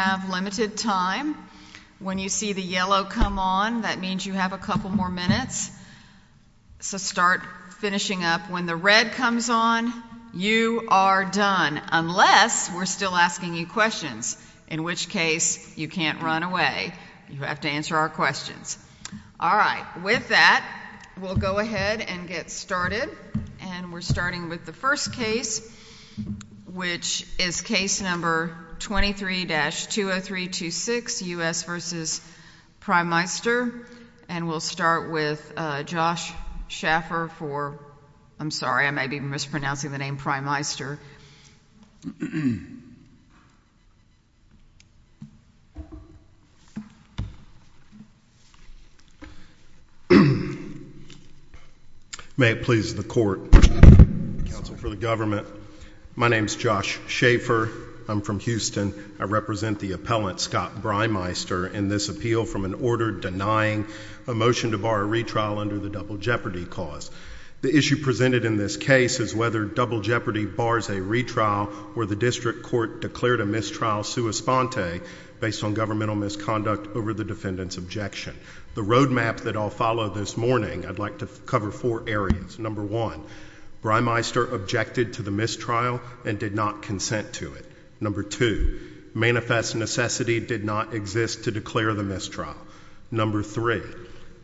have limited time. When you see the yellow come on, that means you have a couple more minutes. So start finishing up. When the red comes on, you are done, unless we're still asking you questions, in which case you can't run away. You have to answer our questions. All right. With that, we'll go ahead and get started. And we're starting with the first question, 20326, U.S. v. Breimeister. And we'll start with Josh Schaffer for, I'm sorry, I may be mispronouncing the name, Breimeister. May it please the court, counsel for the government. My name is Josh Schaffer. I'm from Houston. I represent the appellant, Scott Breimeister, in this appeal from an order denying a motion to bar a retrial under the Double Jeopardy cause. The issue presented in this case is whether Double Jeopardy bars a retrial or the district court declared a mistrial sua sponte based on governmental misconduct over the defendant's objection. The roadmap that I'll follow this morning, I'd like to cover four areas. Number one, Breimeister objected to the mistrial and did not consent to it. Number two, manifest necessity did not exist to declare the mistrial. Number three,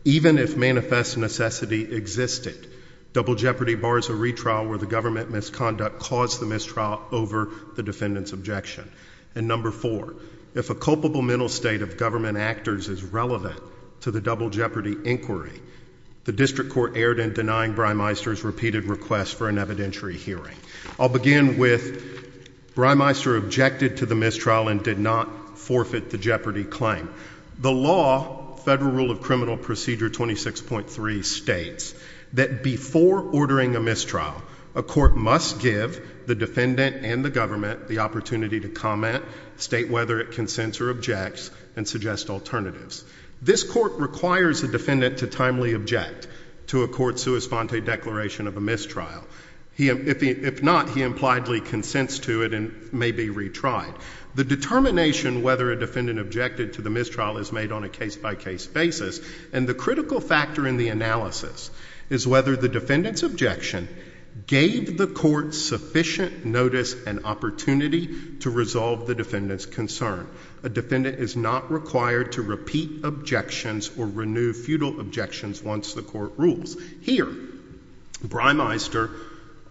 even if manifest necessity existed, Double Jeopardy bars a retrial where the government misconduct caused the mistrial over the defendant's objection. And number four, if a culpable mental state of government actors is relevant to the Double Jeopardy inquiry, the district court erred in denying Breimeister's repeated request for an evidentiary hearing. I'll begin with Breimeister objected to the mistrial and did not forfeit the Jeopardy claim. The law, Federal Rule of Criminal Procedure 26.3, states that before ordering a mistrial, a court must give the defendant and the government the opportunity to comment, state whether it consents or objects, and suggest alternatives. This court requires a defendant to timely object to a court's sua sponte declaration of a mistrial. If not, he impliedly consents to it and may be retried. The determination whether a defendant objected to the mistrial is made on a case-by-case basis, and the critical factor in the analysis is whether the defendant's objection gave the court sufficient notice and opportunity to resolve the defendant's concern. A defendant is not required to repeat objections or renew feudal objections once the court rules. Here, Breimeister,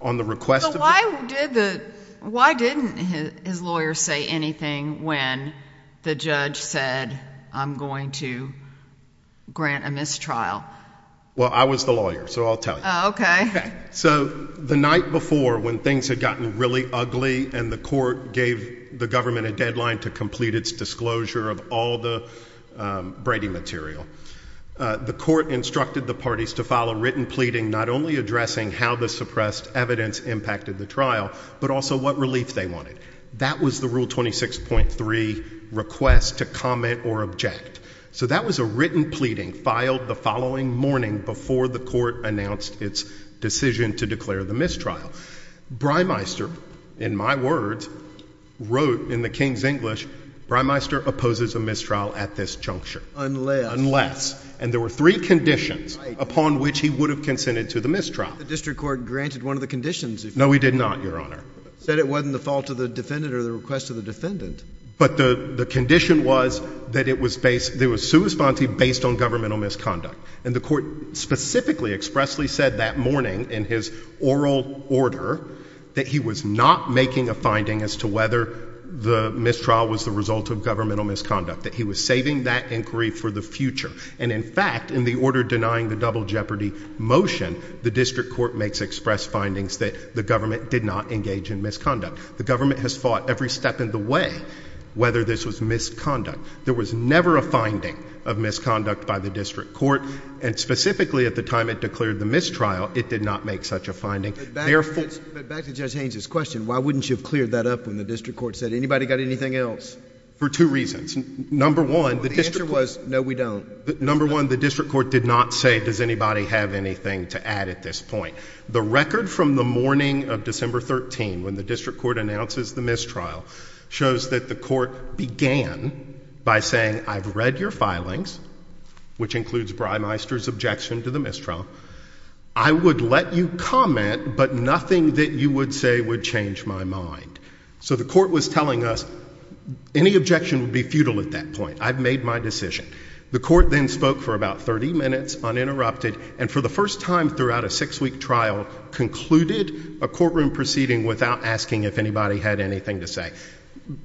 on the request of the court... So why did the, why didn't his lawyer say anything when the judge said, I'm going to grant a mistrial? Well, I was the lawyer, so I'll tell you. Okay. So the night before, when things had gotten really ugly and the court gave the government a deadline to complete its disclosure of all the Brady material, the court instructed the parties to file a written pleading not only addressing how the suppressed evidence impacted the trial, but also what relief they wanted. That was the Rule 26.3 request to comment or object. So that was a written pleading filed the following morning before the court announced its decision to declare the mistrial. Breimeister, in my words, wrote in the King's English, Breimeister opposes a mistrial at this juncture. Unless. And there were three conditions upon which he would have consented to the mistrial. The district court granted one of the conditions. No, he did not, Your Honor. Said it wasn't the fault of the defendant or the request of the defendant. But the condition was that it was based, there was sua sponte based on governmental misconduct. And the court specifically expressly said that morning in his oral order that he was not making a finding as to whether the mistrial was the result of governmental misconduct, that he was saving that inquiry for the future. And in fact, in the order denying the double jeopardy motion, the district court makes express findings that the government did not engage in misconduct. The government has fought every step in the way whether this was misconduct. There was never a finding of misconduct by the district court. And specifically at the time it declared the mistrial, it did not make such a finding. But back to Judge Haynes's question. Why wouldn't you have cleared that up when the district court said anybody got anything else? For two reasons. Number one, the answer was, no, we don't. Number one, the district court did not say, does anybody have anything to add at this point? The record from the morning of December 13, when the district court announces the mistrial, shows that the court began by saying, I've read your filings, which includes Breimeister's objection to the mistrial. I would let you comment, but nothing that you would say would change my mind. So the court was telling us, any objection would be futile at that point. I've made my decision. The court then spoke for about 30 minutes uninterrupted, and for the first time throughout a six-week trial, concluded a courtroom proceeding without asking if anybody had anything to say.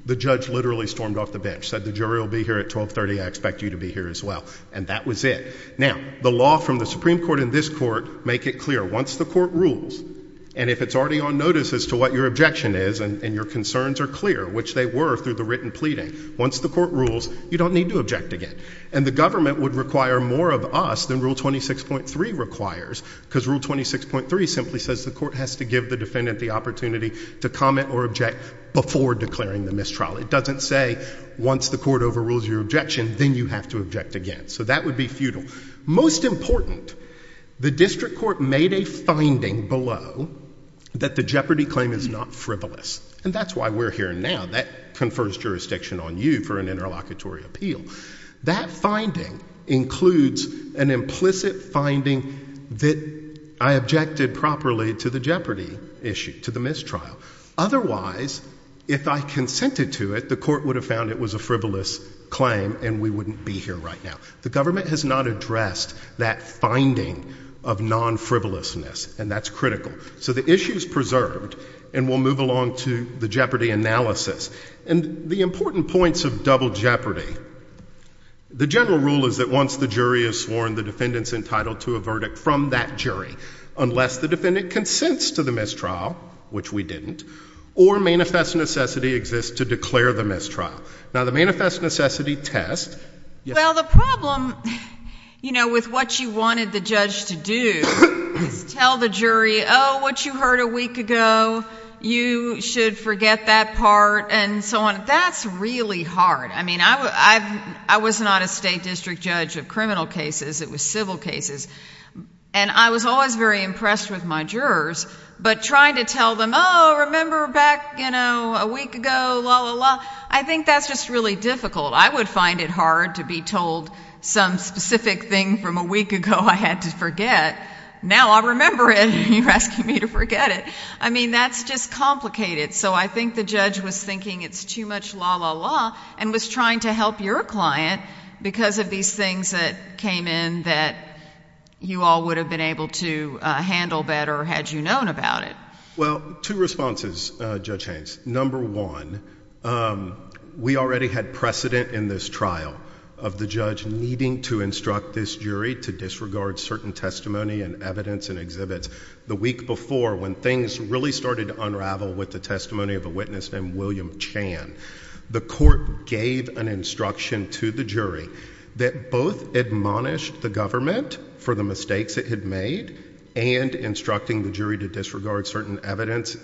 The judge literally stormed off the bench, said the jury will be here at 1230. I expect you to be here as well. And that was it. Now, the law from the Supreme Court and this court make it clear. Once the court rules, and if it's already on notice as to what your objection is, and your concerns are clear, which they were through the written pleading, once the court rules, you don't need to object again. And the government would require more of us than rule 26.3 requires, because rule 26.3 simply says the court has to give the defendant the opportunity to comment or object before declaring the mistrial. It doesn't say, once the court overrules your objection, then you have to object again. So that would be futile. Most important, the district court made a finding below that the jeopardy claim is not frivolous. And that's why we're here now. That confers jurisdiction on you for an interlocutory appeal. That finding includes an implicit finding that I objected properly to the jeopardy issue, to the mistrial. Otherwise, if I consented to it, the court would have found it was a frivolous claim, and we wouldn't be here right now. The government has not addressed that finding of non-frivolousness, and that's critical. So the issue is preserved, and we'll move along to the jeopardy analysis. And the important points of double jeopardy, the general rule is that once the jury has sworn, the defendant's entitled to a verdict from that jury, unless the defendant consents to the mistrial, which we didn't, or manifest necessity exists to declare the mistrial. Now, the manifest necessity test— Well, the problem, you know, with what you wanted the judge to do is tell the jury, oh, what you heard a week ago, you should forget that part, and so on. That's really hard. I mean, I was not a state district judge of criminal cases. It was civil cases. And I was always very impressed with my jurors, but trying to tell them, oh, remember back, you know, a week ago, la, la, la, I think that's just really difficult. I would find it hard to be told some specific thing from a week ago I had to forget. Now I remember it, and you're asking me to forget it. I mean, that's just complicated. So I think the judge was thinking it's too much la, la, la, and was trying to help your client because of these things that came in that you all would have been able to handle better had you known about it. Well, two responses, Judge Haynes. Number one, we already had precedent in this trial of the judge needing to instruct this jury to disregard certain testimony and evidence and exhibits. The week before, when things really started to unravel with the testimony of a witness named William Chan, the court gave an instruction to the jury that both admonished the government for the mistakes it had made and instructing the jury to disregard certain evidence,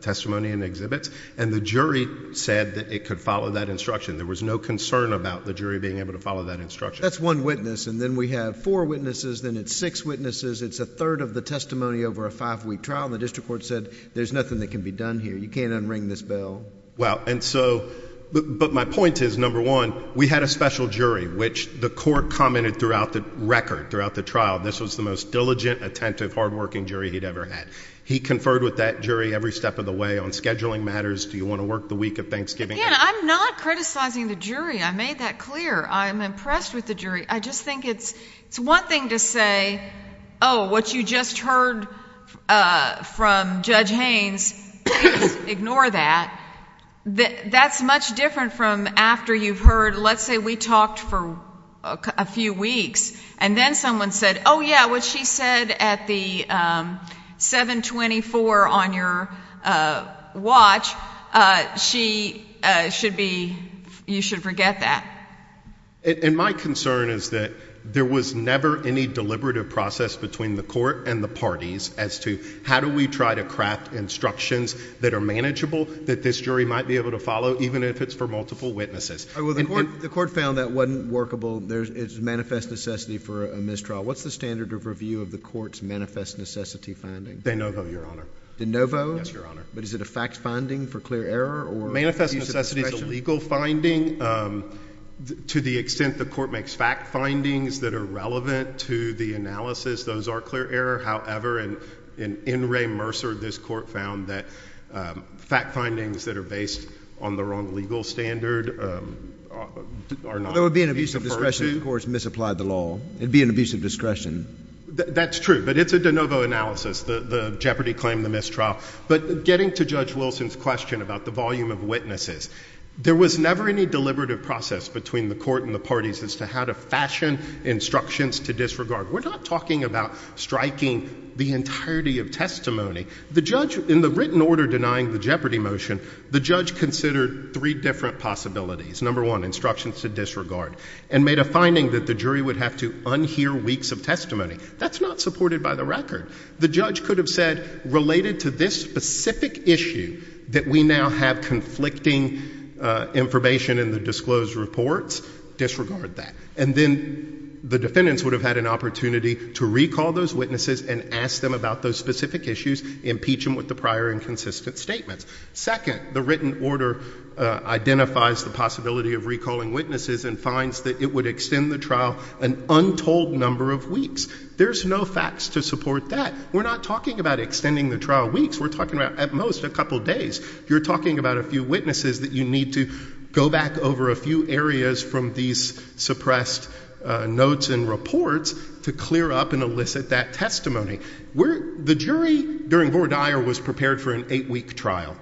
testimony, and exhibits, and the jury said that it could follow that instruction. There was no concern about the jury being able to follow that instruction. That's one witness, and then we have four witnesses, then it's six witnesses, it's a third of the testimony over a five-week trial, and the district court said there's nothing that can be done here. You can't unring this bell. Well, and so, but my point is, number one, we had a special jury, which the court commented throughout the record, throughout the trial, this was the most diligent, attentive, hardworking jury he'd ever had. He conferred with that jury every step of the way on scheduling matters. Do you want to work the week of Thanksgiving? Again, I'm not criticizing the jury. I made that clear. I'm impressed with the jury. I just think it's one thing to say, oh, what you just heard from Judge Haynes, ignore that. That's much different from after you've heard, let's say we talked for a few weeks, and then someone said, oh, yeah, what she said at the 724 on your watch, she should be, you should forget that. And my concern is that there was never any deliberative process between the court and the parties as to how do we try to craft instructions that are manageable that this jury might be able to follow, even if it's for multiple witnesses. Oh, well, the court found that wasn't workable. There's manifest necessity for a mistrial. What's the standard of review of the court's manifest necessity finding? De novo, Your Honor. De novo? Yes, Your Honor. But is it a fact-finding for clear error or— Manifest necessity is a legal finding. To the extent the court makes fact findings that are relevant to the analysis, those are clear error. However, in Ray Mercer, this court found that fact findings that are based on the wrong legal standard are not— There would be an abuse of discretion if the court misapplied the law. It'd be an abuse of discretion. That's true. But it's a de novo analysis, the jeopardy claim, the mistrial. But getting to Judge Wilson's question about the volume of witnesses, there was never any deliberative process between the court and the parties as to how to fashion instructions to disregard. We're not talking about striking the entirety of testimony. The judge, in the written order denying the jeopardy motion, the judge considered three different possibilities. Number one, instructions to disregard, and made a finding that the jury would have to unhear weeks of testimony. That's not supported by the record. The judge could have said, related to this specific issue that we now have conflicting information in the disclosed reports, disregard that. And then the defendants would have had an opportunity to recall those witnesses and ask them about those specific issues, impeach them with the prior inconsistent statements. Second, the written order identifies the possibility of recalling witnesses and finds that it would extend the trial an untold number of weeks. There's no facts to support that. We're not talking about extending the trial weeks. We're talking about, at most, a couple days. You're talking about a few witnesses that you need to go back over a few areas from these suppressed notes and reports to clear up and elicit that testimony. The jury, during Vore Dyer, was prepared for an eight-week trial.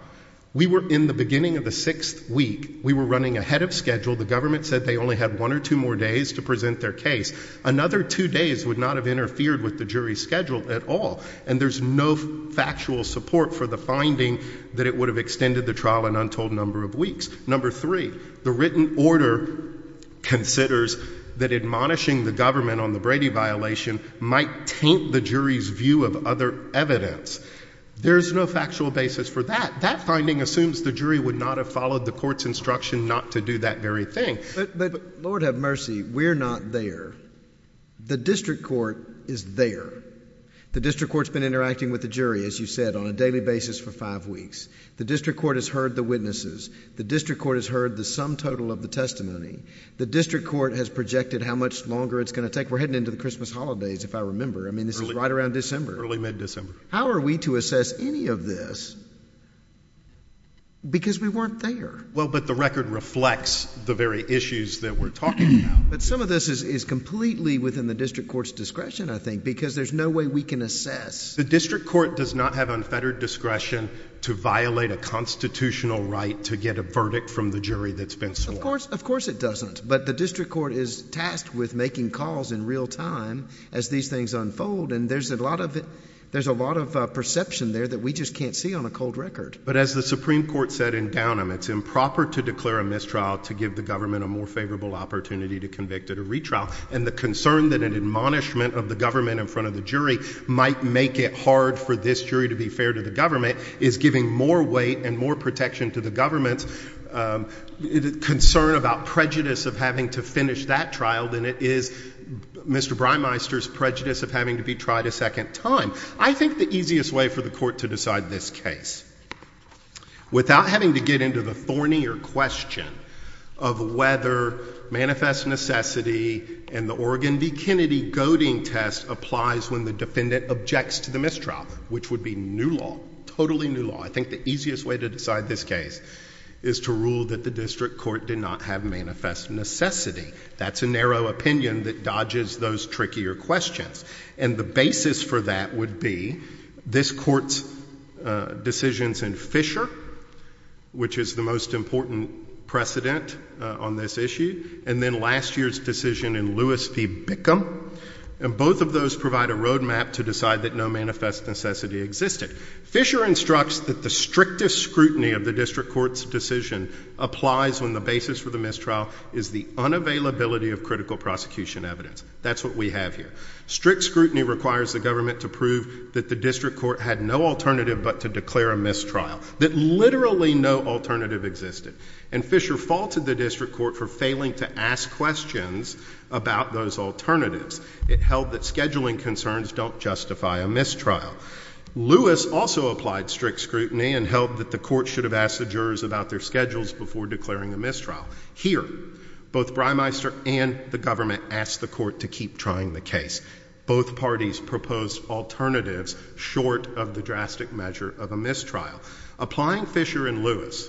We were in the beginning of the sixth week. We were running ahead of schedule. The government said they only had one or two more days to present their case. Another two days would not have interfered with the jury's schedule at all, and there's no factual support for the finding that it would have extended the trial an untold number of weeks. Number three, the written order considers that admonishing the government on the Brady violation might taint the jury's view of other evidence. There's no factual basis for that. That finding assumes the jury would not have followed the court's instruction not to do that very thing. Lord, have mercy. We're not there. The district court is there. The district court's been interacting with the jury, as you said, on a daily basis for five weeks. The district court has heard the witnesses. The district court has heard the sum total of the testimony. The district court has projected how much longer it's going to take. We're heading into the Christmas holidays, if I remember. I mean, this is right around December. Early, mid-December. How are we to assess any of this? Because we weren't there. But the record reflects the very issues that we're talking about. But some of this is completely within the district court's discretion, I think, because there's no way we can assess. The district court does not have unfettered discretion to violate a constitutional right to get a verdict from the jury that's been sworn. Of course it doesn't. But the district court is tasked with making calls in real time as these things unfold. And there's a lot of perception there that we just can't see on a cold record. But as the Supreme Court said in Downham, it's improper to declare a mistrial to give the government a more favorable opportunity to convict at a retrial. And the concern that an admonishment of the government in front of the jury might make it hard for this jury to be fair to the government is giving more weight and more protection to the government's concern about prejudice of having to finish that trial than it is Mr. Breimeister's prejudice of having to be tried a second time. I think the easiest way for the court to decide this case without having to get into the thornier question of whether manifest necessity and the Oregon v. Kennedy goading test applies when the defendant objects to the mistrial, which would be new law, totally new law, I think the easiest way to decide this case is to rule that the district court did not have manifest necessity. That's a narrow opinion that dodges those trickier questions. And the basis for that would be this court's decisions in Fisher, which is the most important precedent on this issue, and then last year's decision in Lewis v. Bickham. And both of those provide a roadmap to decide that no manifest necessity existed. Fisher instructs that the strictest scrutiny of the district court's decision applies when the basis for the mistrial is the unavailability of critical prosecution evidence. That's what we have here. Strict scrutiny requires the government to prove that the district court had no alternative but to declare a mistrial, that literally no alternative existed. And Fisher faulted the district court for failing to ask questions about those alternatives. It held that scheduling concerns don't justify a mistrial. Lewis also applied strict scrutiny and held that the court should have asked the jurors about their schedules before declaring a mistrial. Here, both Breimeister and the government asked the court to keep trying the case. Both parties proposed alternatives short of the drastic measure of a mistrial. Applying Fisher and Lewis,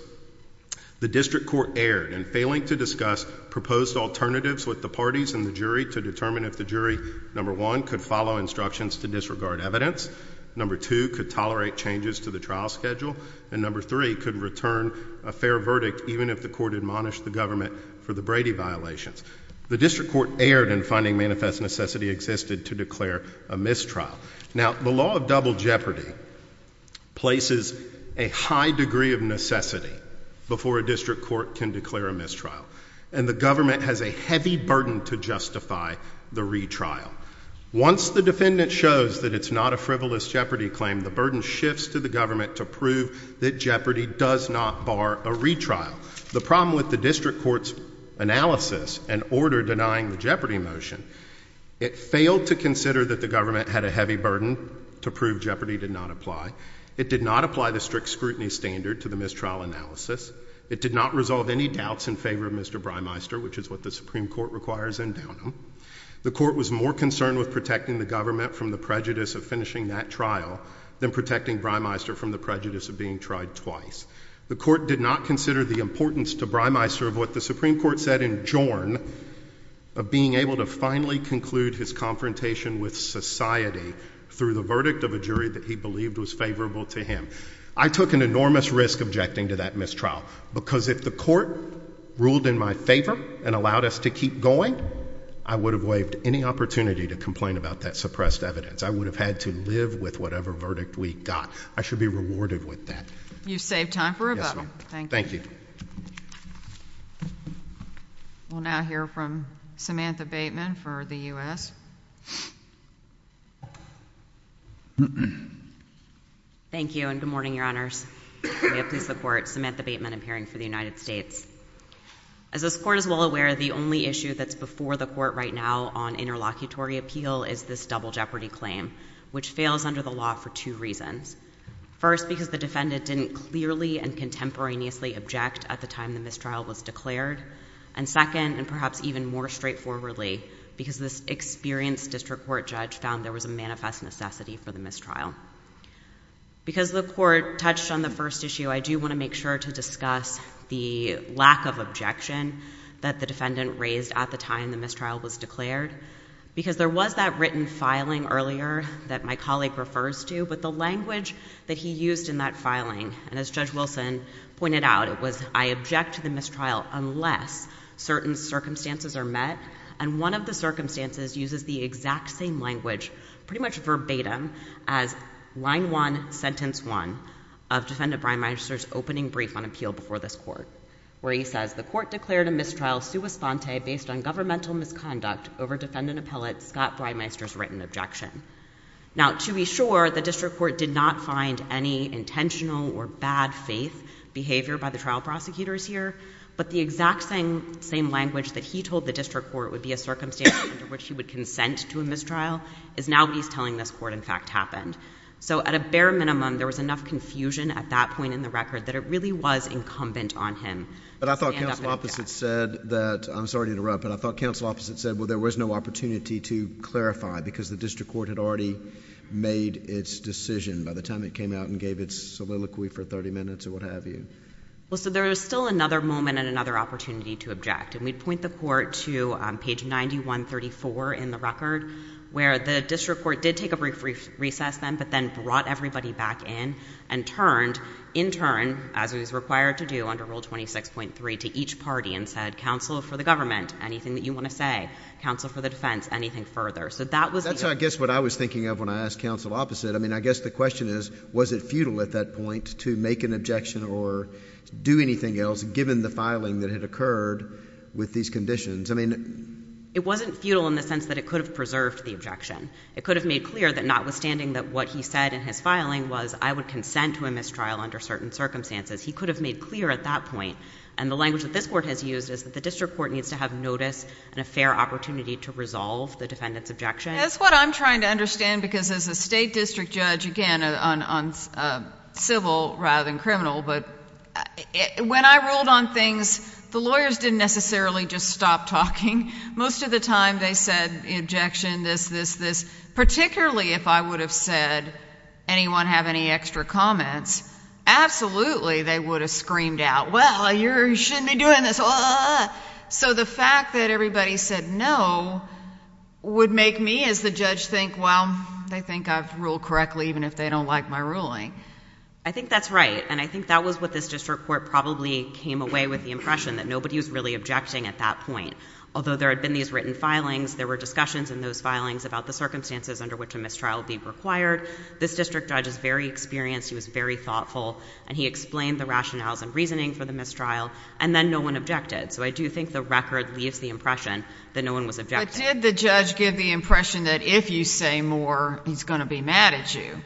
the district court erred in failing to discuss proposed alternatives with the parties and the jury to determine if the jury, number one, could follow instructions to disregard evidence, number two, could tolerate changes to the trial schedule, and number three, could return a fair verdict even if the court admonished the government for the Brady violations. The district court erred in finding manifest necessity existed to declare a mistrial. Now, the law of double jeopardy places a high degree of necessity before a district court can declare a mistrial, and the government has a heavy burden to justify the retrial. Once the defendant shows that it's not a frivolous jeopardy claim, the burden shifts to the government to prove that jeopardy does not apply. The problem with the district court's analysis and order denying the jeopardy motion, it failed to consider that the government had a heavy burden to prove jeopardy did not apply. It did not apply the strict scrutiny standard to the mistrial analysis. It did not resolve any doubts in favor of Mr. Breimeister, which is what the Supreme Court requires in Dunham. The court was more concerned with protecting the government from the prejudice of finishing that trial than protecting Breimeister from the prejudice of being tried twice. The court did not consider the importance to Breimeister of what the Supreme Court said in Jorn of being able to finally conclude his confrontation with society through the verdict of a jury that he believed was favorable to him. I took an enormous risk objecting to that mistrial because if the court ruled in my favor and allowed us to keep going, I would have waived any opportunity to complain about that suppressed evidence. I would have had to live with whatever verdict we got. I should be rewarded with that. You saved time for a vote. Thank you. We'll now hear from Samantha Bateman for the U.S. Thank you and good morning, your honors. May it please the court, Samantha Bateman, appearing for the United States. As this court is well aware, the only issue that's before the court right now on interlocutory appeal is this double jeopardy claim, which fails under the law for two reasons. First, because the defendant didn't clearly and contemporaneously object at the time the mistrial was declared. And second, and perhaps even more straightforwardly, because this experienced district court judge found there was a manifest necessity for the mistrial. Because the court touched on the first issue, I do want to make sure to discuss the lack of objection that the defendant raised at the time the mistrial was declared. Because there was that written filing earlier that my colleague refers to, but the language that he used in that filing, and as Judge Wilson pointed out, it was, I object to the mistrial unless certain circumstances are met. And one of the circumstances uses the exact same language, pretty much verbatim, as line one, sentence one of Defendant Brian Meister's opening brief on this court, where he says, the court declared a mistrial sua sponte based on governmental misconduct over Defendant Appellate Scott Brian Meister's written objection. Now, to be sure, the district court did not find any intentional or bad faith behavior by the trial prosecutors here, but the exact same language that he told the district court would be a circumstance under which he would consent to a mistrial is now what he's telling this court, in fact, happened. So at a bare minimum, there was enough confusion at that point in the record that it really was incumbent on him. But I thought counsel opposite said that, I'm sorry to interrupt, but I thought counsel opposite said, well, there was no opportunity to clarify because the district court had already made its decision by the time it came out and gave its soliloquy for 30 minutes or what have you. Well, so there is still another moment and another opportunity to object. And we'd point the court to page 9134 in the record, where the district court did take a brief recess then, but then brought everybody back in and turned, in turn, as was required to do under Rule 26.3, to each party and said, counsel for the government, anything that you want to say, counsel for the defense, anything further. So that was... That's, I guess, what I was thinking of when I asked counsel opposite. I mean, I guess the question is, was it futile at that point to make an objection or do anything else, given the filing that had occurred with these conditions? I mean... It wasn't futile in the sense that it could have preserved the objection. It could have made clear that notwithstanding that what he said in his filing was, I would consent to a mistrial under certain circumstances. He could have made clear at that point. And the language that this court has used is that the district court needs to have notice and a fair opportunity to resolve the defendant's objection. That's what I'm trying to understand because as a state district judge, again, on civil rather than criminal, but when I ruled on things, the lawyers didn't necessarily just stop talking. Most of the time they said, objection, this, this, this. Particularly if I would have said, anyone have any extra comments? Absolutely, they would have screamed out, well, you shouldn't be doing this. So the fact that everybody said no would make me as the judge think, well, they think I've ruled correctly even if they don't like my ruling. I think that's right. And I think that was what this district court probably came away with, the impression that nobody was really objecting at that point. Although there had been these written filings, there were discussions in those filings about the circumstances under which a mistrial would be required. This district judge is very experienced. He was very thoughtful, and he explained the rationales and reasoning for the mistrial, and then no one objected. So I do think the record leaves the impression that no one was objecting. But did the judge give the impression that if you say more, he's going to be mad at you?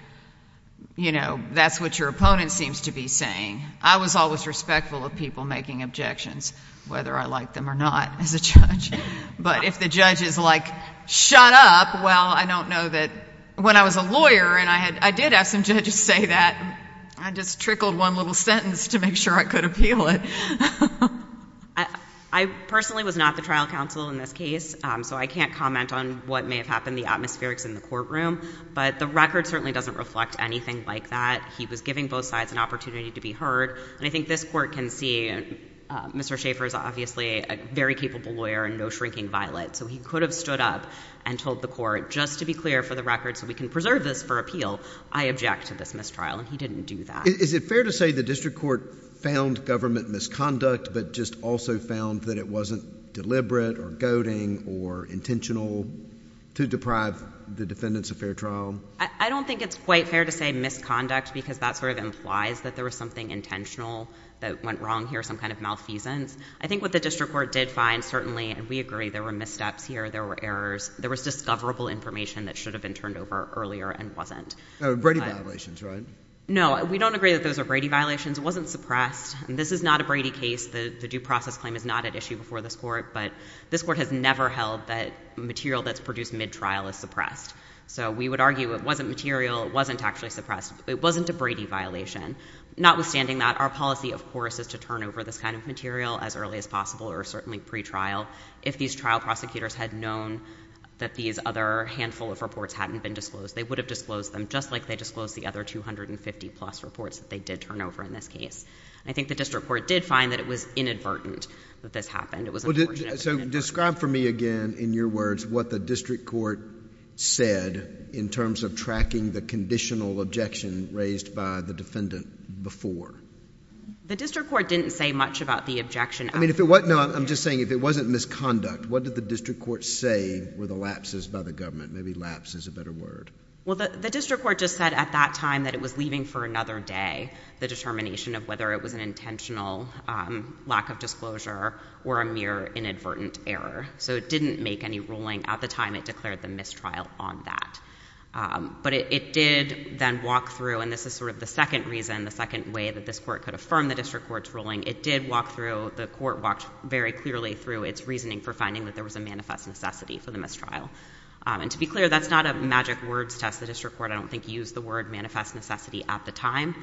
You know, that's what your opponent seems to be saying. I was always respectful of people making objections, whether I liked them or not as a judge. But if the judge is like, shut up, well, I don't know that when I was a lawyer and I did have some judges say that, I just trickled one little sentence to make sure I could appeal it. I personally was not the trial counsel in this case, so I can't comment on what may have happened, the atmospherics in the courtroom. But the record certainly doesn't reflect anything like that. He was giving both sides an opportunity to be heard. And I think this court can see, Mr. Schaffer is obviously a very capable lawyer and no shrinking violet. So he could have stood up and told the court, just to be clear for the record so we can preserve this for appeal, I object to this mistrial. And he didn't do that. Is it fair to say the district court found government misconduct, but just also found that it wasn't deliberate or goading or intentional to deprive the defendants of fair trial? I don't think it's quite fair to say misconduct because that sort of implies that there was something intentional that went wrong here, some kind of malfeasance. I think what the district court did find, certainly, and we agree there were missteps here, there were errors, there was discoverable information that should have been turned over earlier and wasn't. Brady violations, right? No, we don't agree that those are Brady violations. It wasn't suppressed. And this is not a Brady case. The due process claim is not at issue before this court, but this court has never held that material that's produced mid-trial is suppressed. So we would argue it wasn't material, it wasn't actually suppressed. It wasn't a Brady violation. Notwithstanding that, our policy, of course, is to turn over this kind of material as early as possible or certainly pre-trial. If these trial prosecutors had known that these other handful of reports hadn't been disclosed, they would have disclosed them just like they disclosed the other 250 plus reports that they did turn over in this case. I think the district court did find that it was inadvertent that this happened. It was unfortunate. So describe for me again, in your words, what the district court said in terms of tracking the conditional objection raised by the defendant before. The district court didn't say much about the objection. I mean, if it wasn't, no, I'm just saying if it wasn't misconduct, what did the district court say were the lapses by the government? Maybe lapse is a better word. Well, the district court just said at that time that it was leaving for another day the determination of whether it was an intentional lack of disclosure or a mere inadvertent error. So it didn't make any ruling at the time it declared the mistrial on that. But it did then walk through, and this is sort of the second reason, the second way that this court could affirm the district court's ruling, it did walk through, the court walked very clearly through its reasoning for finding that there was a manifest necessity for the mistrial. And to be clear, that's not a magic words test. The district court, I don't think, used the word manifest necessity at the time.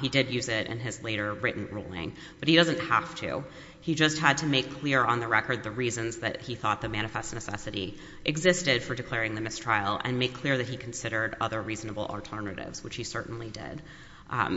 He did use it in his later written ruling, but he doesn't have to. He just had to make clear on the record the reasons that he thought the manifest necessity existed for declaring the mistrial and make clear that he considered other reasonable alternatives, which he certainly did.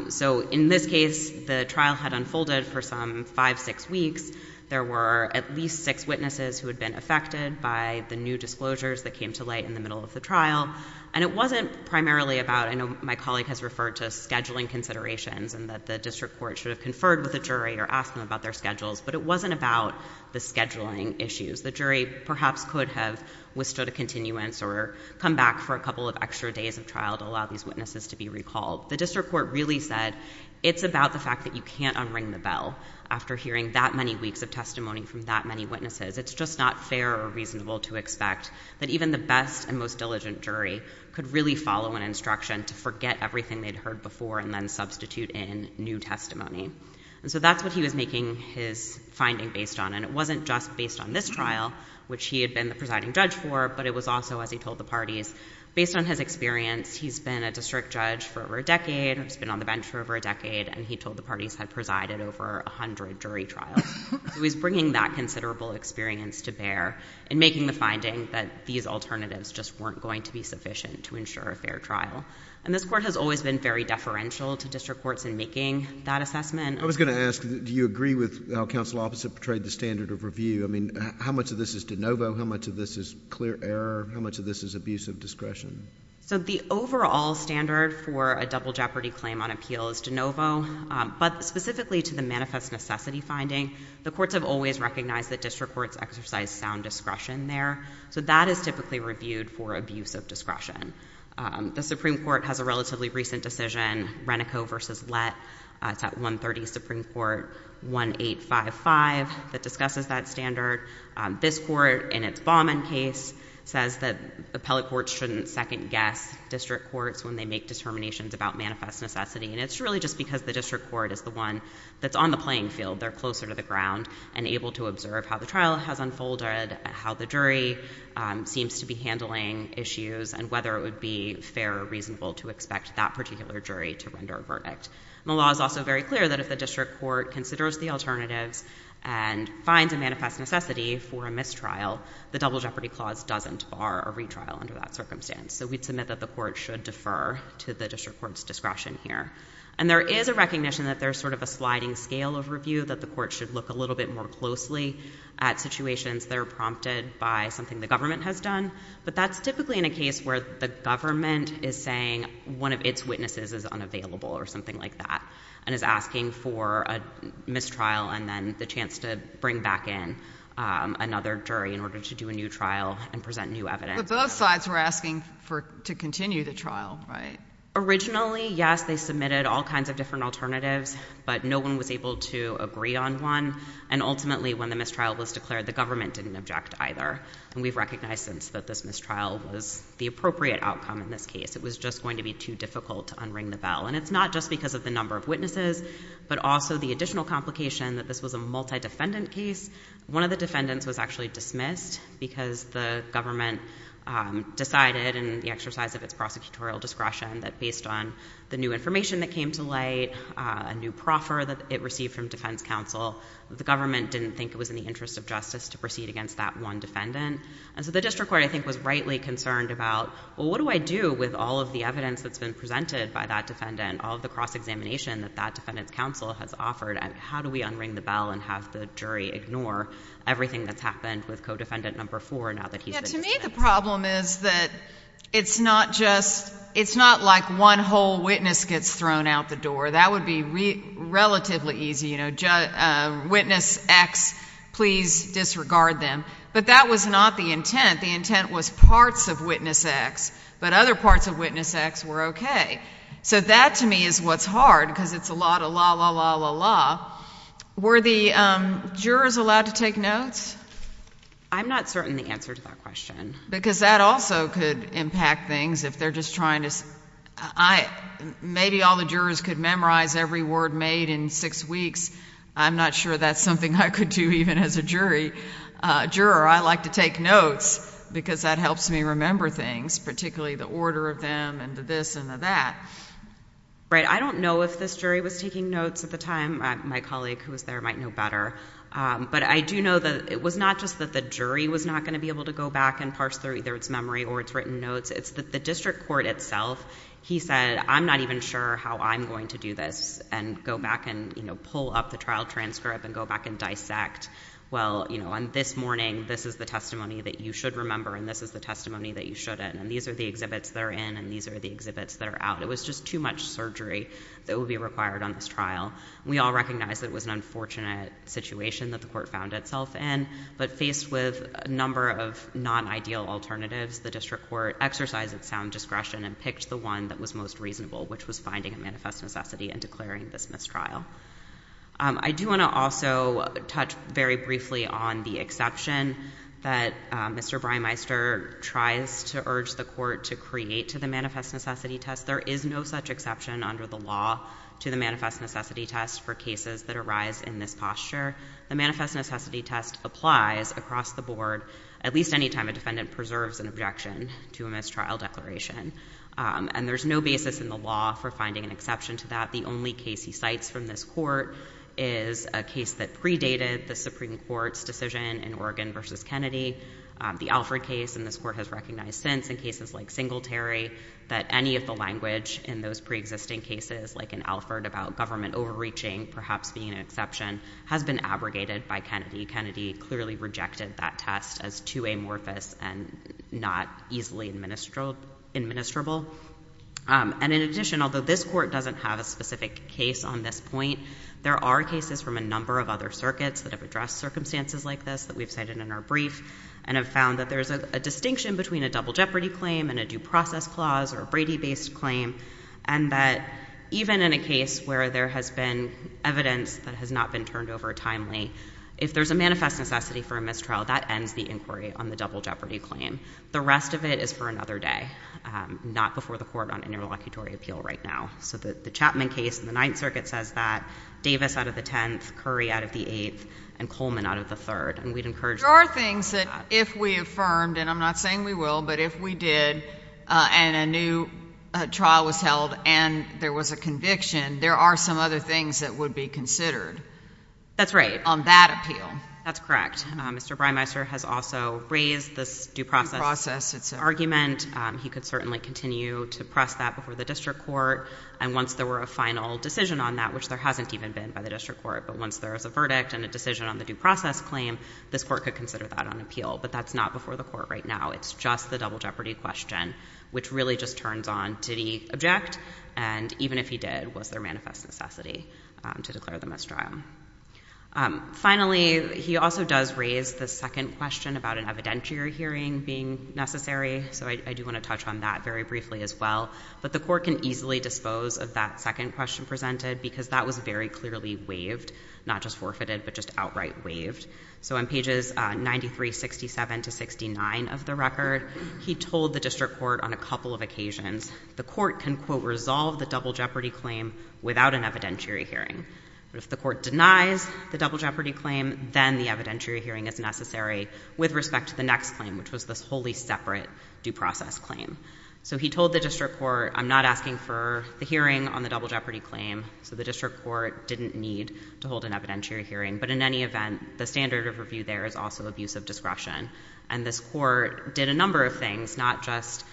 So in this case, the trial had unfolded for some five, six weeks. There were at least six witnesses who had been affected by the new disclosures that came to light in the middle of the trial. And it wasn't primarily about, I know my colleague has referred to scheduling considerations and that the district court should have conferred with a jury or asked them about their schedules, but it wasn't about the scheduling issues. The jury perhaps could have withstood a continuance or come back for a couple of extra days of trial to allow these witnesses to be recalled. The district court really said, it's about the fact that you can't unring the bell after hearing that many weeks of testimony from that many witnesses. It's just not fair or reasonable to expect that even the best and most diligent jury could really follow an instruction to forget everything they'd heard before and then substitute in new testimony. And so that's what he was making his finding based on. And it wasn't just based on this trial, which he had been the presiding judge for, but it was also, as he told the parties, based on his experience, he's been a district judge for over a decade. He's been on the bench for over a decade. And he told the parties had presided over a hundred jury trials. He was bringing that considerable experience to bear and making the finding that these alternatives just weren't going to be sufficient to ensure a fair trial. And this court has always been very deferential to district courts in making that assessment. I was going to ask, do you agree with how counsel opposite portrayed the standard of review? I mean, how much of this is de novo? How much of this is clear error? How much of this is abusive discretion? So the overall standard for a double jeopardy claim on appeal is de novo. But specifically to the manifest necessity finding, the courts have always recognized that district courts exercise sound discretion there. So that is typically reviewed for abusive discretion. The Supreme Court has a relatively recent decision, Renico v. Lett, it's at 130 Supreme Court, 1855, that discusses that standard. This court, in its Bauman case, says that appellate courts shouldn't second guess district courts when they make determinations about manifest necessity. And it's really just because the district court is the one that's on the playing field. They're closer to the ground and able to observe how the trial has unfolded, how the jury seems to be handling issues, and whether it would be fair or reasonable to expect that particular jury to render a verdict. The law is also very clear that if the district court considers the alternatives and finds a manifest necessity for a mistrial, the double jeopardy clause doesn't bar a retrial under that circumstance. So we'd submit that the court should defer to the district court's discretion here. And there is a recognition that there's sort of a sliding scale overview, that the court should look a little bit more closely at situations that are prompted by something the government has done. But that's typically in a case where the government is saying one of its witnesses is unavailable or something like that, and is asking for a mistrial and then the chance to bring back in another jury in order to do a new trial and present new evidence. But both sides were asking to continue the trial, right? Originally, yes, they submitted all kinds of different alternatives, but no one was able to agree on one. And ultimately, when the mistrial was declared, the government didn't object either. And we've recognized since that this mistrial was the appropriate outcome in this case. It was just going to be too difficult to unring the bell. And it's not just because of the number of witnesses, but also the additional complication that this was a multi-defendant case. One of the defendants was actually dismissed because the government decided in the exercise of its prosecutorial discretion that based on the new information that came to light, a new proffer that it received from defense counsel, the government didn't think it was in the interest of justice to proceed against that one defendant. And so the district court, I think, was rightly concerned about, well, what do I do with all of the evidence that's been presented by that defendant, all of the cross-examination that that defendant's counsel has offered, and how do we unring the bell and have the jury ignore everything that's happened with co-defendant number four now that he's been dismissed? Yeah, to me the problem is that it's not just, it's not like one whole witness gets thrown out the door. That would be relatively easy, you know, witness X, please disregard them. But that was not the intent. The intent was parts of witness X, but other parts of witness X were okay. So that to me is what's hard because it's a lot of la, la, la, la, la. Were the jurors allowed to take notes? I'm not certain the answer to that question. Because that also could impact things if they're just trying to, I, maybe all the jurors could memorize every word made in six weeks. I'm not sure that's something I could do even as a jury, a juror. I like to take notes because that helps me remember things, particularly the order of them and the this and the that. Right, I don't know if this jury was taking notes at the time. My colleague who was there might know better. But I do know that it was not just that the jury was not going to be able to go back and parse through either its memory or its written notes. It's that the district court itself, he said, I'm not even sure how I'm going to do this and go back and, you know, pull up the trial transcript and go back and dissect. Well, you know, on this morning, this is the testimony that you should remember and this is the testimony that you shouldn't. And these are the exhibits that are in and these are the exhibits that are out. It was just too much surgery that would be required on this trial. We all recognize that it was an unfortunate situation that the court found itself in. But faced with a number of non-ideal alternatives, the district court exercised its sound discretion and picked the one that was most reasonable, which was finding a manifest necessity and declaring this mistrial. I do want to also touch very briefly on the exception that Mr. Breimeister tries to urge the court to create to the manifest necessity test. There is no such exception under the law to the manifest necessity test for cases that arise in this posture. The manifest necessity test applies across the board at least any time a defendant preserves an objection to a mistrial this court is a case that predated the Supreme Court's decision in Oregon versus Kennedy. The Alford case in this court has recognized since in cases like Singletary that any of the language in those pre-existing cases like an Alford about government overreaching, perhaps being an exception, has been abrogated by Kennedy. Kennedy clearly rejected that test as too amorphous and not easily administrable. And in addition, although this court doesn't have a specific case on this point, there are cases from a number of other circuits that have addressed circumstances like this that we've cited in our brief and have found that there's a distinction between a double jeopardy claim and a due process clause or a Brady-based claim, and that even in a case where there has been evidence that has not been turned over timely, if there's a manifest necessity for a mistrial, that ends the inquiry on the double jeopardy claim. The rest of it is for another day, not before the court on interlocutory appeal right now. So the Chapman case in the Ninth Circuit says that. Davis out of the 10th, Curry out of the 8th, and Coleman out of the 3rd. And we'd encourage... There are things that if we affirmed, and I'm not saying we will, but if we did and a new trial was held and there was a conviction, there are some other things that would be considered. That's right. On that appeal. That's correct. Mr. Breimeister has also raised this due process argument. He could certainly continue to press that before the district court. And once there were a final decision on that, which there hasn't even been by the district court, but once there is a verdict and a decision on the due process claim, this court could consider that on appeal. But that's not before the court right now. It's just the double jeopardy question, which really just turns on, did he object? And even if he did, was there manifest necessity to declare the mistrial? Finally, he also does raise the second question about an evidentiary hearing being necessary. So I do want to touch on that very briefly as well. But the court can easily dispose of that second question presented because that was very clearly waived, not just forfeited, but just outright waived. So on pages 93, 67 to 69 of the record, he told the district court on a couple of occasions, the court can quote, resolve the double jeopardy claim without an evidentiary hearing. But if the court denies the double jeopardy claim, then the evidentiary hearing is necessary with respect to the next claim, which was this wholly separate due process claim. So he told the district court, I'm not asking for the hearing on the double jeopardy claim. So the district court didn't need to hold an evidentiary hearing. But in any event, the standard of review there is also abuse of discretion. And this court did a number of things, not just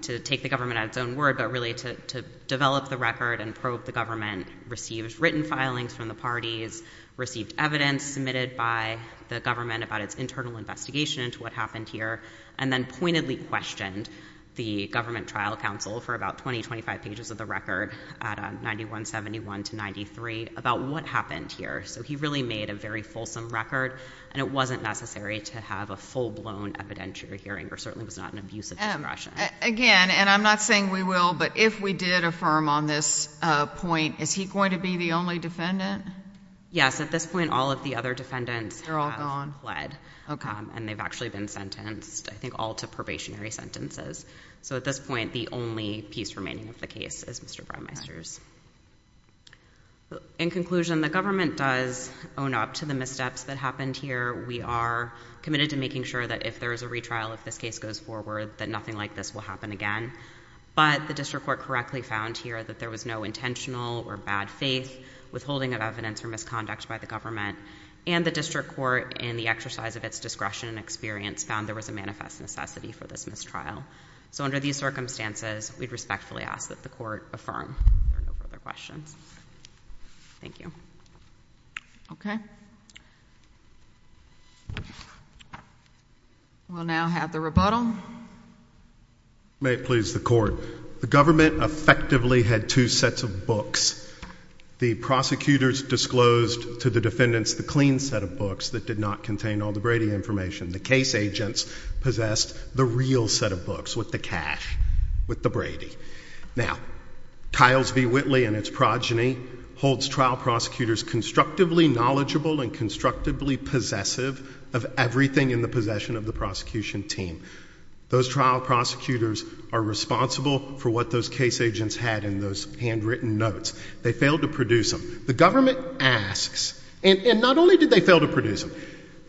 to take the government at its own word, but really to develop the record and probe the received written filings from the parties, received evidence submitted by the government about its internal investigation into what happened here, and then pointedly questioned the government trial counsel for about 20, 25 pages of the record at 91, 71 to 93 about what happened here. So he really made a very fulsome record, and it wasn't necessary to have a full blown evidentiary hearing or certainly was not an abuse of discretion. Again, and I'm not saying we will, but if we did affirm on this point, is he going to be the only defendant? Yes, at this point, all of the other defendants are all gone, led, and they've actually been sentenced, I think, all to probationary sentences. So at this point, the only piece remaining of the case is Mr. Brimeister's. In conclusion, the government does own up to the missteps that happened here. We are committed to making sure that if there is a retrial, if this case goes forward, that nothing like this will happen again. But the district court correctly found here that there was no intentional or bad faith withholding of evidence or misconduct by the government, and the district court, in the exercise of its discretion and experience, found there was a manifest necessity for this mistrial. So under these circumstances, we'd respectfully ask that the court affirm. There are no further questions. Thank you. Okay. We'll now have the rebuttal. May it please the court. The government effectively had two sets of books. The prosecutors disclosed to the defendants the clean set of books that did not contain all the Brady information. The case agents possessed the real set of books with the cash, with the Brady. Now, Tiles v. Whitley and its progeny holds trial prosecutors constructively knowledgeable and constructively possessive of everything in the possession of the prosecution team. Those trial prosecutors are responsible for what those case agents had in those handwritten notes. They failed to produce them. The government asks, and not only did they fail to produce them,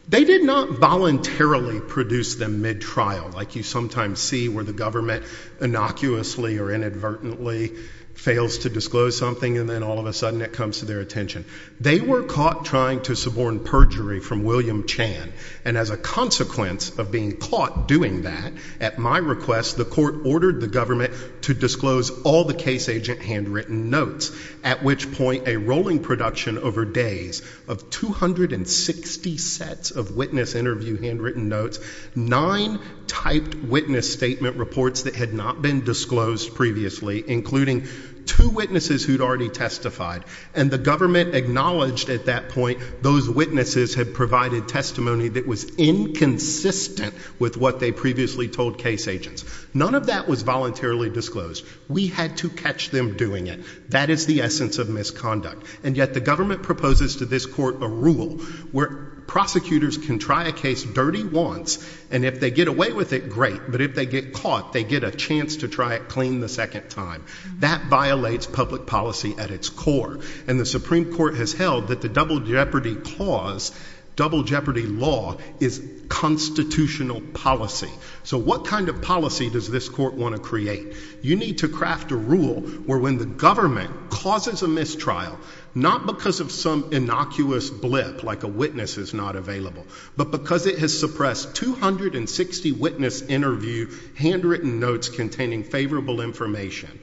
they did not voluntarily produce them mid-trial, like you sometimes see where the government innocuously or inadvertently fails to disclose something and then all of a sudden it comes to their attention. They were caught trying to suborn perjury from William Chan, and as a consequence of being caught doing that, at my request, the court ordered the government to disclose all the case agent handwritten notes, at which point a rolling production over days of 260 sets of witness interview handwritten notes, nine typed witness statement reports that had not been disclosed previously, including two witnesses who'd already testified, and the government acknowledged at that point those witnesses had provided testimony that was inconsistent with what they previously told case agents. None of that was voluntarily disclosed. We had to catch them doing it. That is the essence of misconduct, and yet the government proposes to this court a rule where prosecutors can try a case dirty once, and if they get away with it, great, but if they get caught, they get a chance to try it clean the second time. That violates public policy at its core, and the Supreme Court has held that the double jeopardy clause, double jeopardy law, is constitutional policy. So what kind of policy does this court want to create? You need to craft a rule where when the government causes a mistrial, not because of some innocuous blip like a witness is not available, but because it has suppressed 260 witness interview handwritten notes containing favorable information.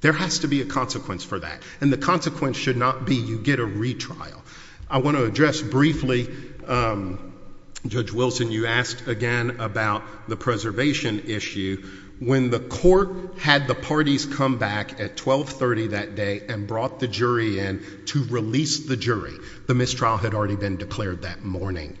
There has to be a consequence for that, and the consequence should not be you get a retrial. I want to address briefly, Judge Wilson, you asked again about the preservation issue. When the court had the parties come back at 1230 that day and brought the jury in to release the jury, the mistrial had already been declared that morning.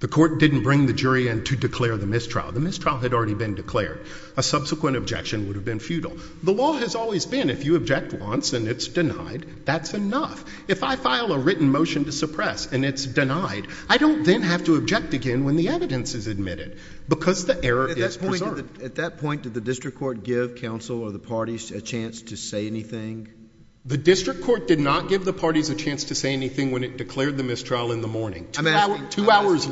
The court didn't bring the jury in to declare the mistrial. The mistrial had already been declared. A subsequent objection would have been futile. The law has always been if you object once and it's denied, that's enough. If I file a written motion to suppress and it's denied, I don't then have to object again when the evidence is admitted because the error is preserved. At that point, did the district court give counsel or the parties a chance to say anything when it declared the mistrial in the morning? Two hours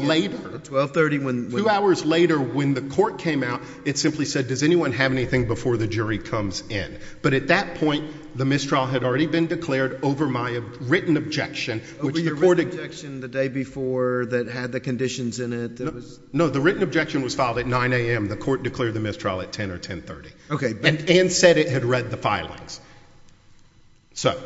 later when the court came out, it simply said does anyone have anything before the jury comes in? But at that point, the mistrial had already been declared over my written objection. The written objection the day before that had the conditions in it? No, the written objection was filed at 9 a.m. The court declared the mistrial at 10 or 10 30 and said it had read the filings. But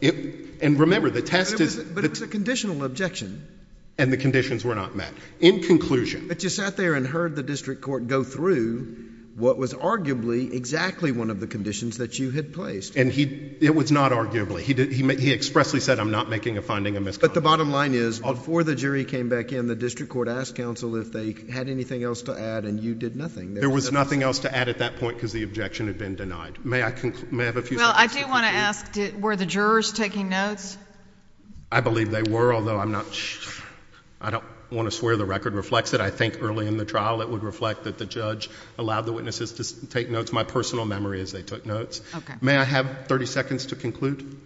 it was a conditional objection. And the conditions were not met. In conclusion. But you sat there and heard the district court go through what was arguably exactly one of the conditions that you had placed. And it was not arguably. He expressly said I'm not making a finding of misconduct. But the bottom line is before the jury came back in, the district court asked counsel if they had anything else to add and you did nothing. There was nothing else to add at that point because the objection had been denied. May I may have a few. Well, I do want to ask were the jurors taking notes? I believe they were, although I'm not sure. I don't want to swear the record reflects it. I think early in the trial, it would reflect that the judge allowed the witnesses to take notes. My personal memory is they took notes. May I have 30 seconds to conclude?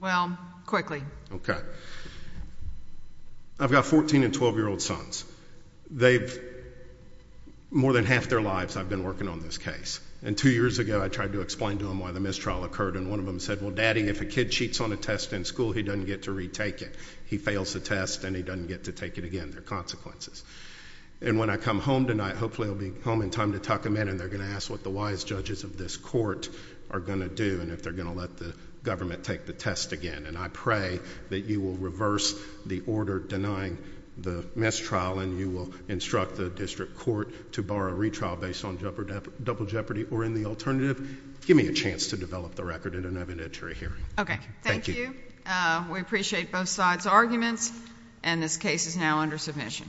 Well, quickly. Okay. I've got 14 and 12 year old sons. They've more than half their lives I've been working on this case. And two years ago, I tried to explain to him why the mistrial occurred. And one of them said, well, daddy, if a kid cheats on a test in school, he doesn't get to retake it. He fails the test and he doesn't get to take it again. Their consequences. And when I come home tonight, hopefully I'll be home in time to talk a minute and they're going to ask what the wise judges of this court are going to do and if they're going to let the government take the test again. And I pray that you will reverse the order denying the mistrial and you will instruct the district court to borrow a retrial based on double jeopardy or in the alternative. Give me a chance to develop the record in an evidentiary hearing. Okay. Thank you. We appreciate both sides' arguments. And this case is now under submission.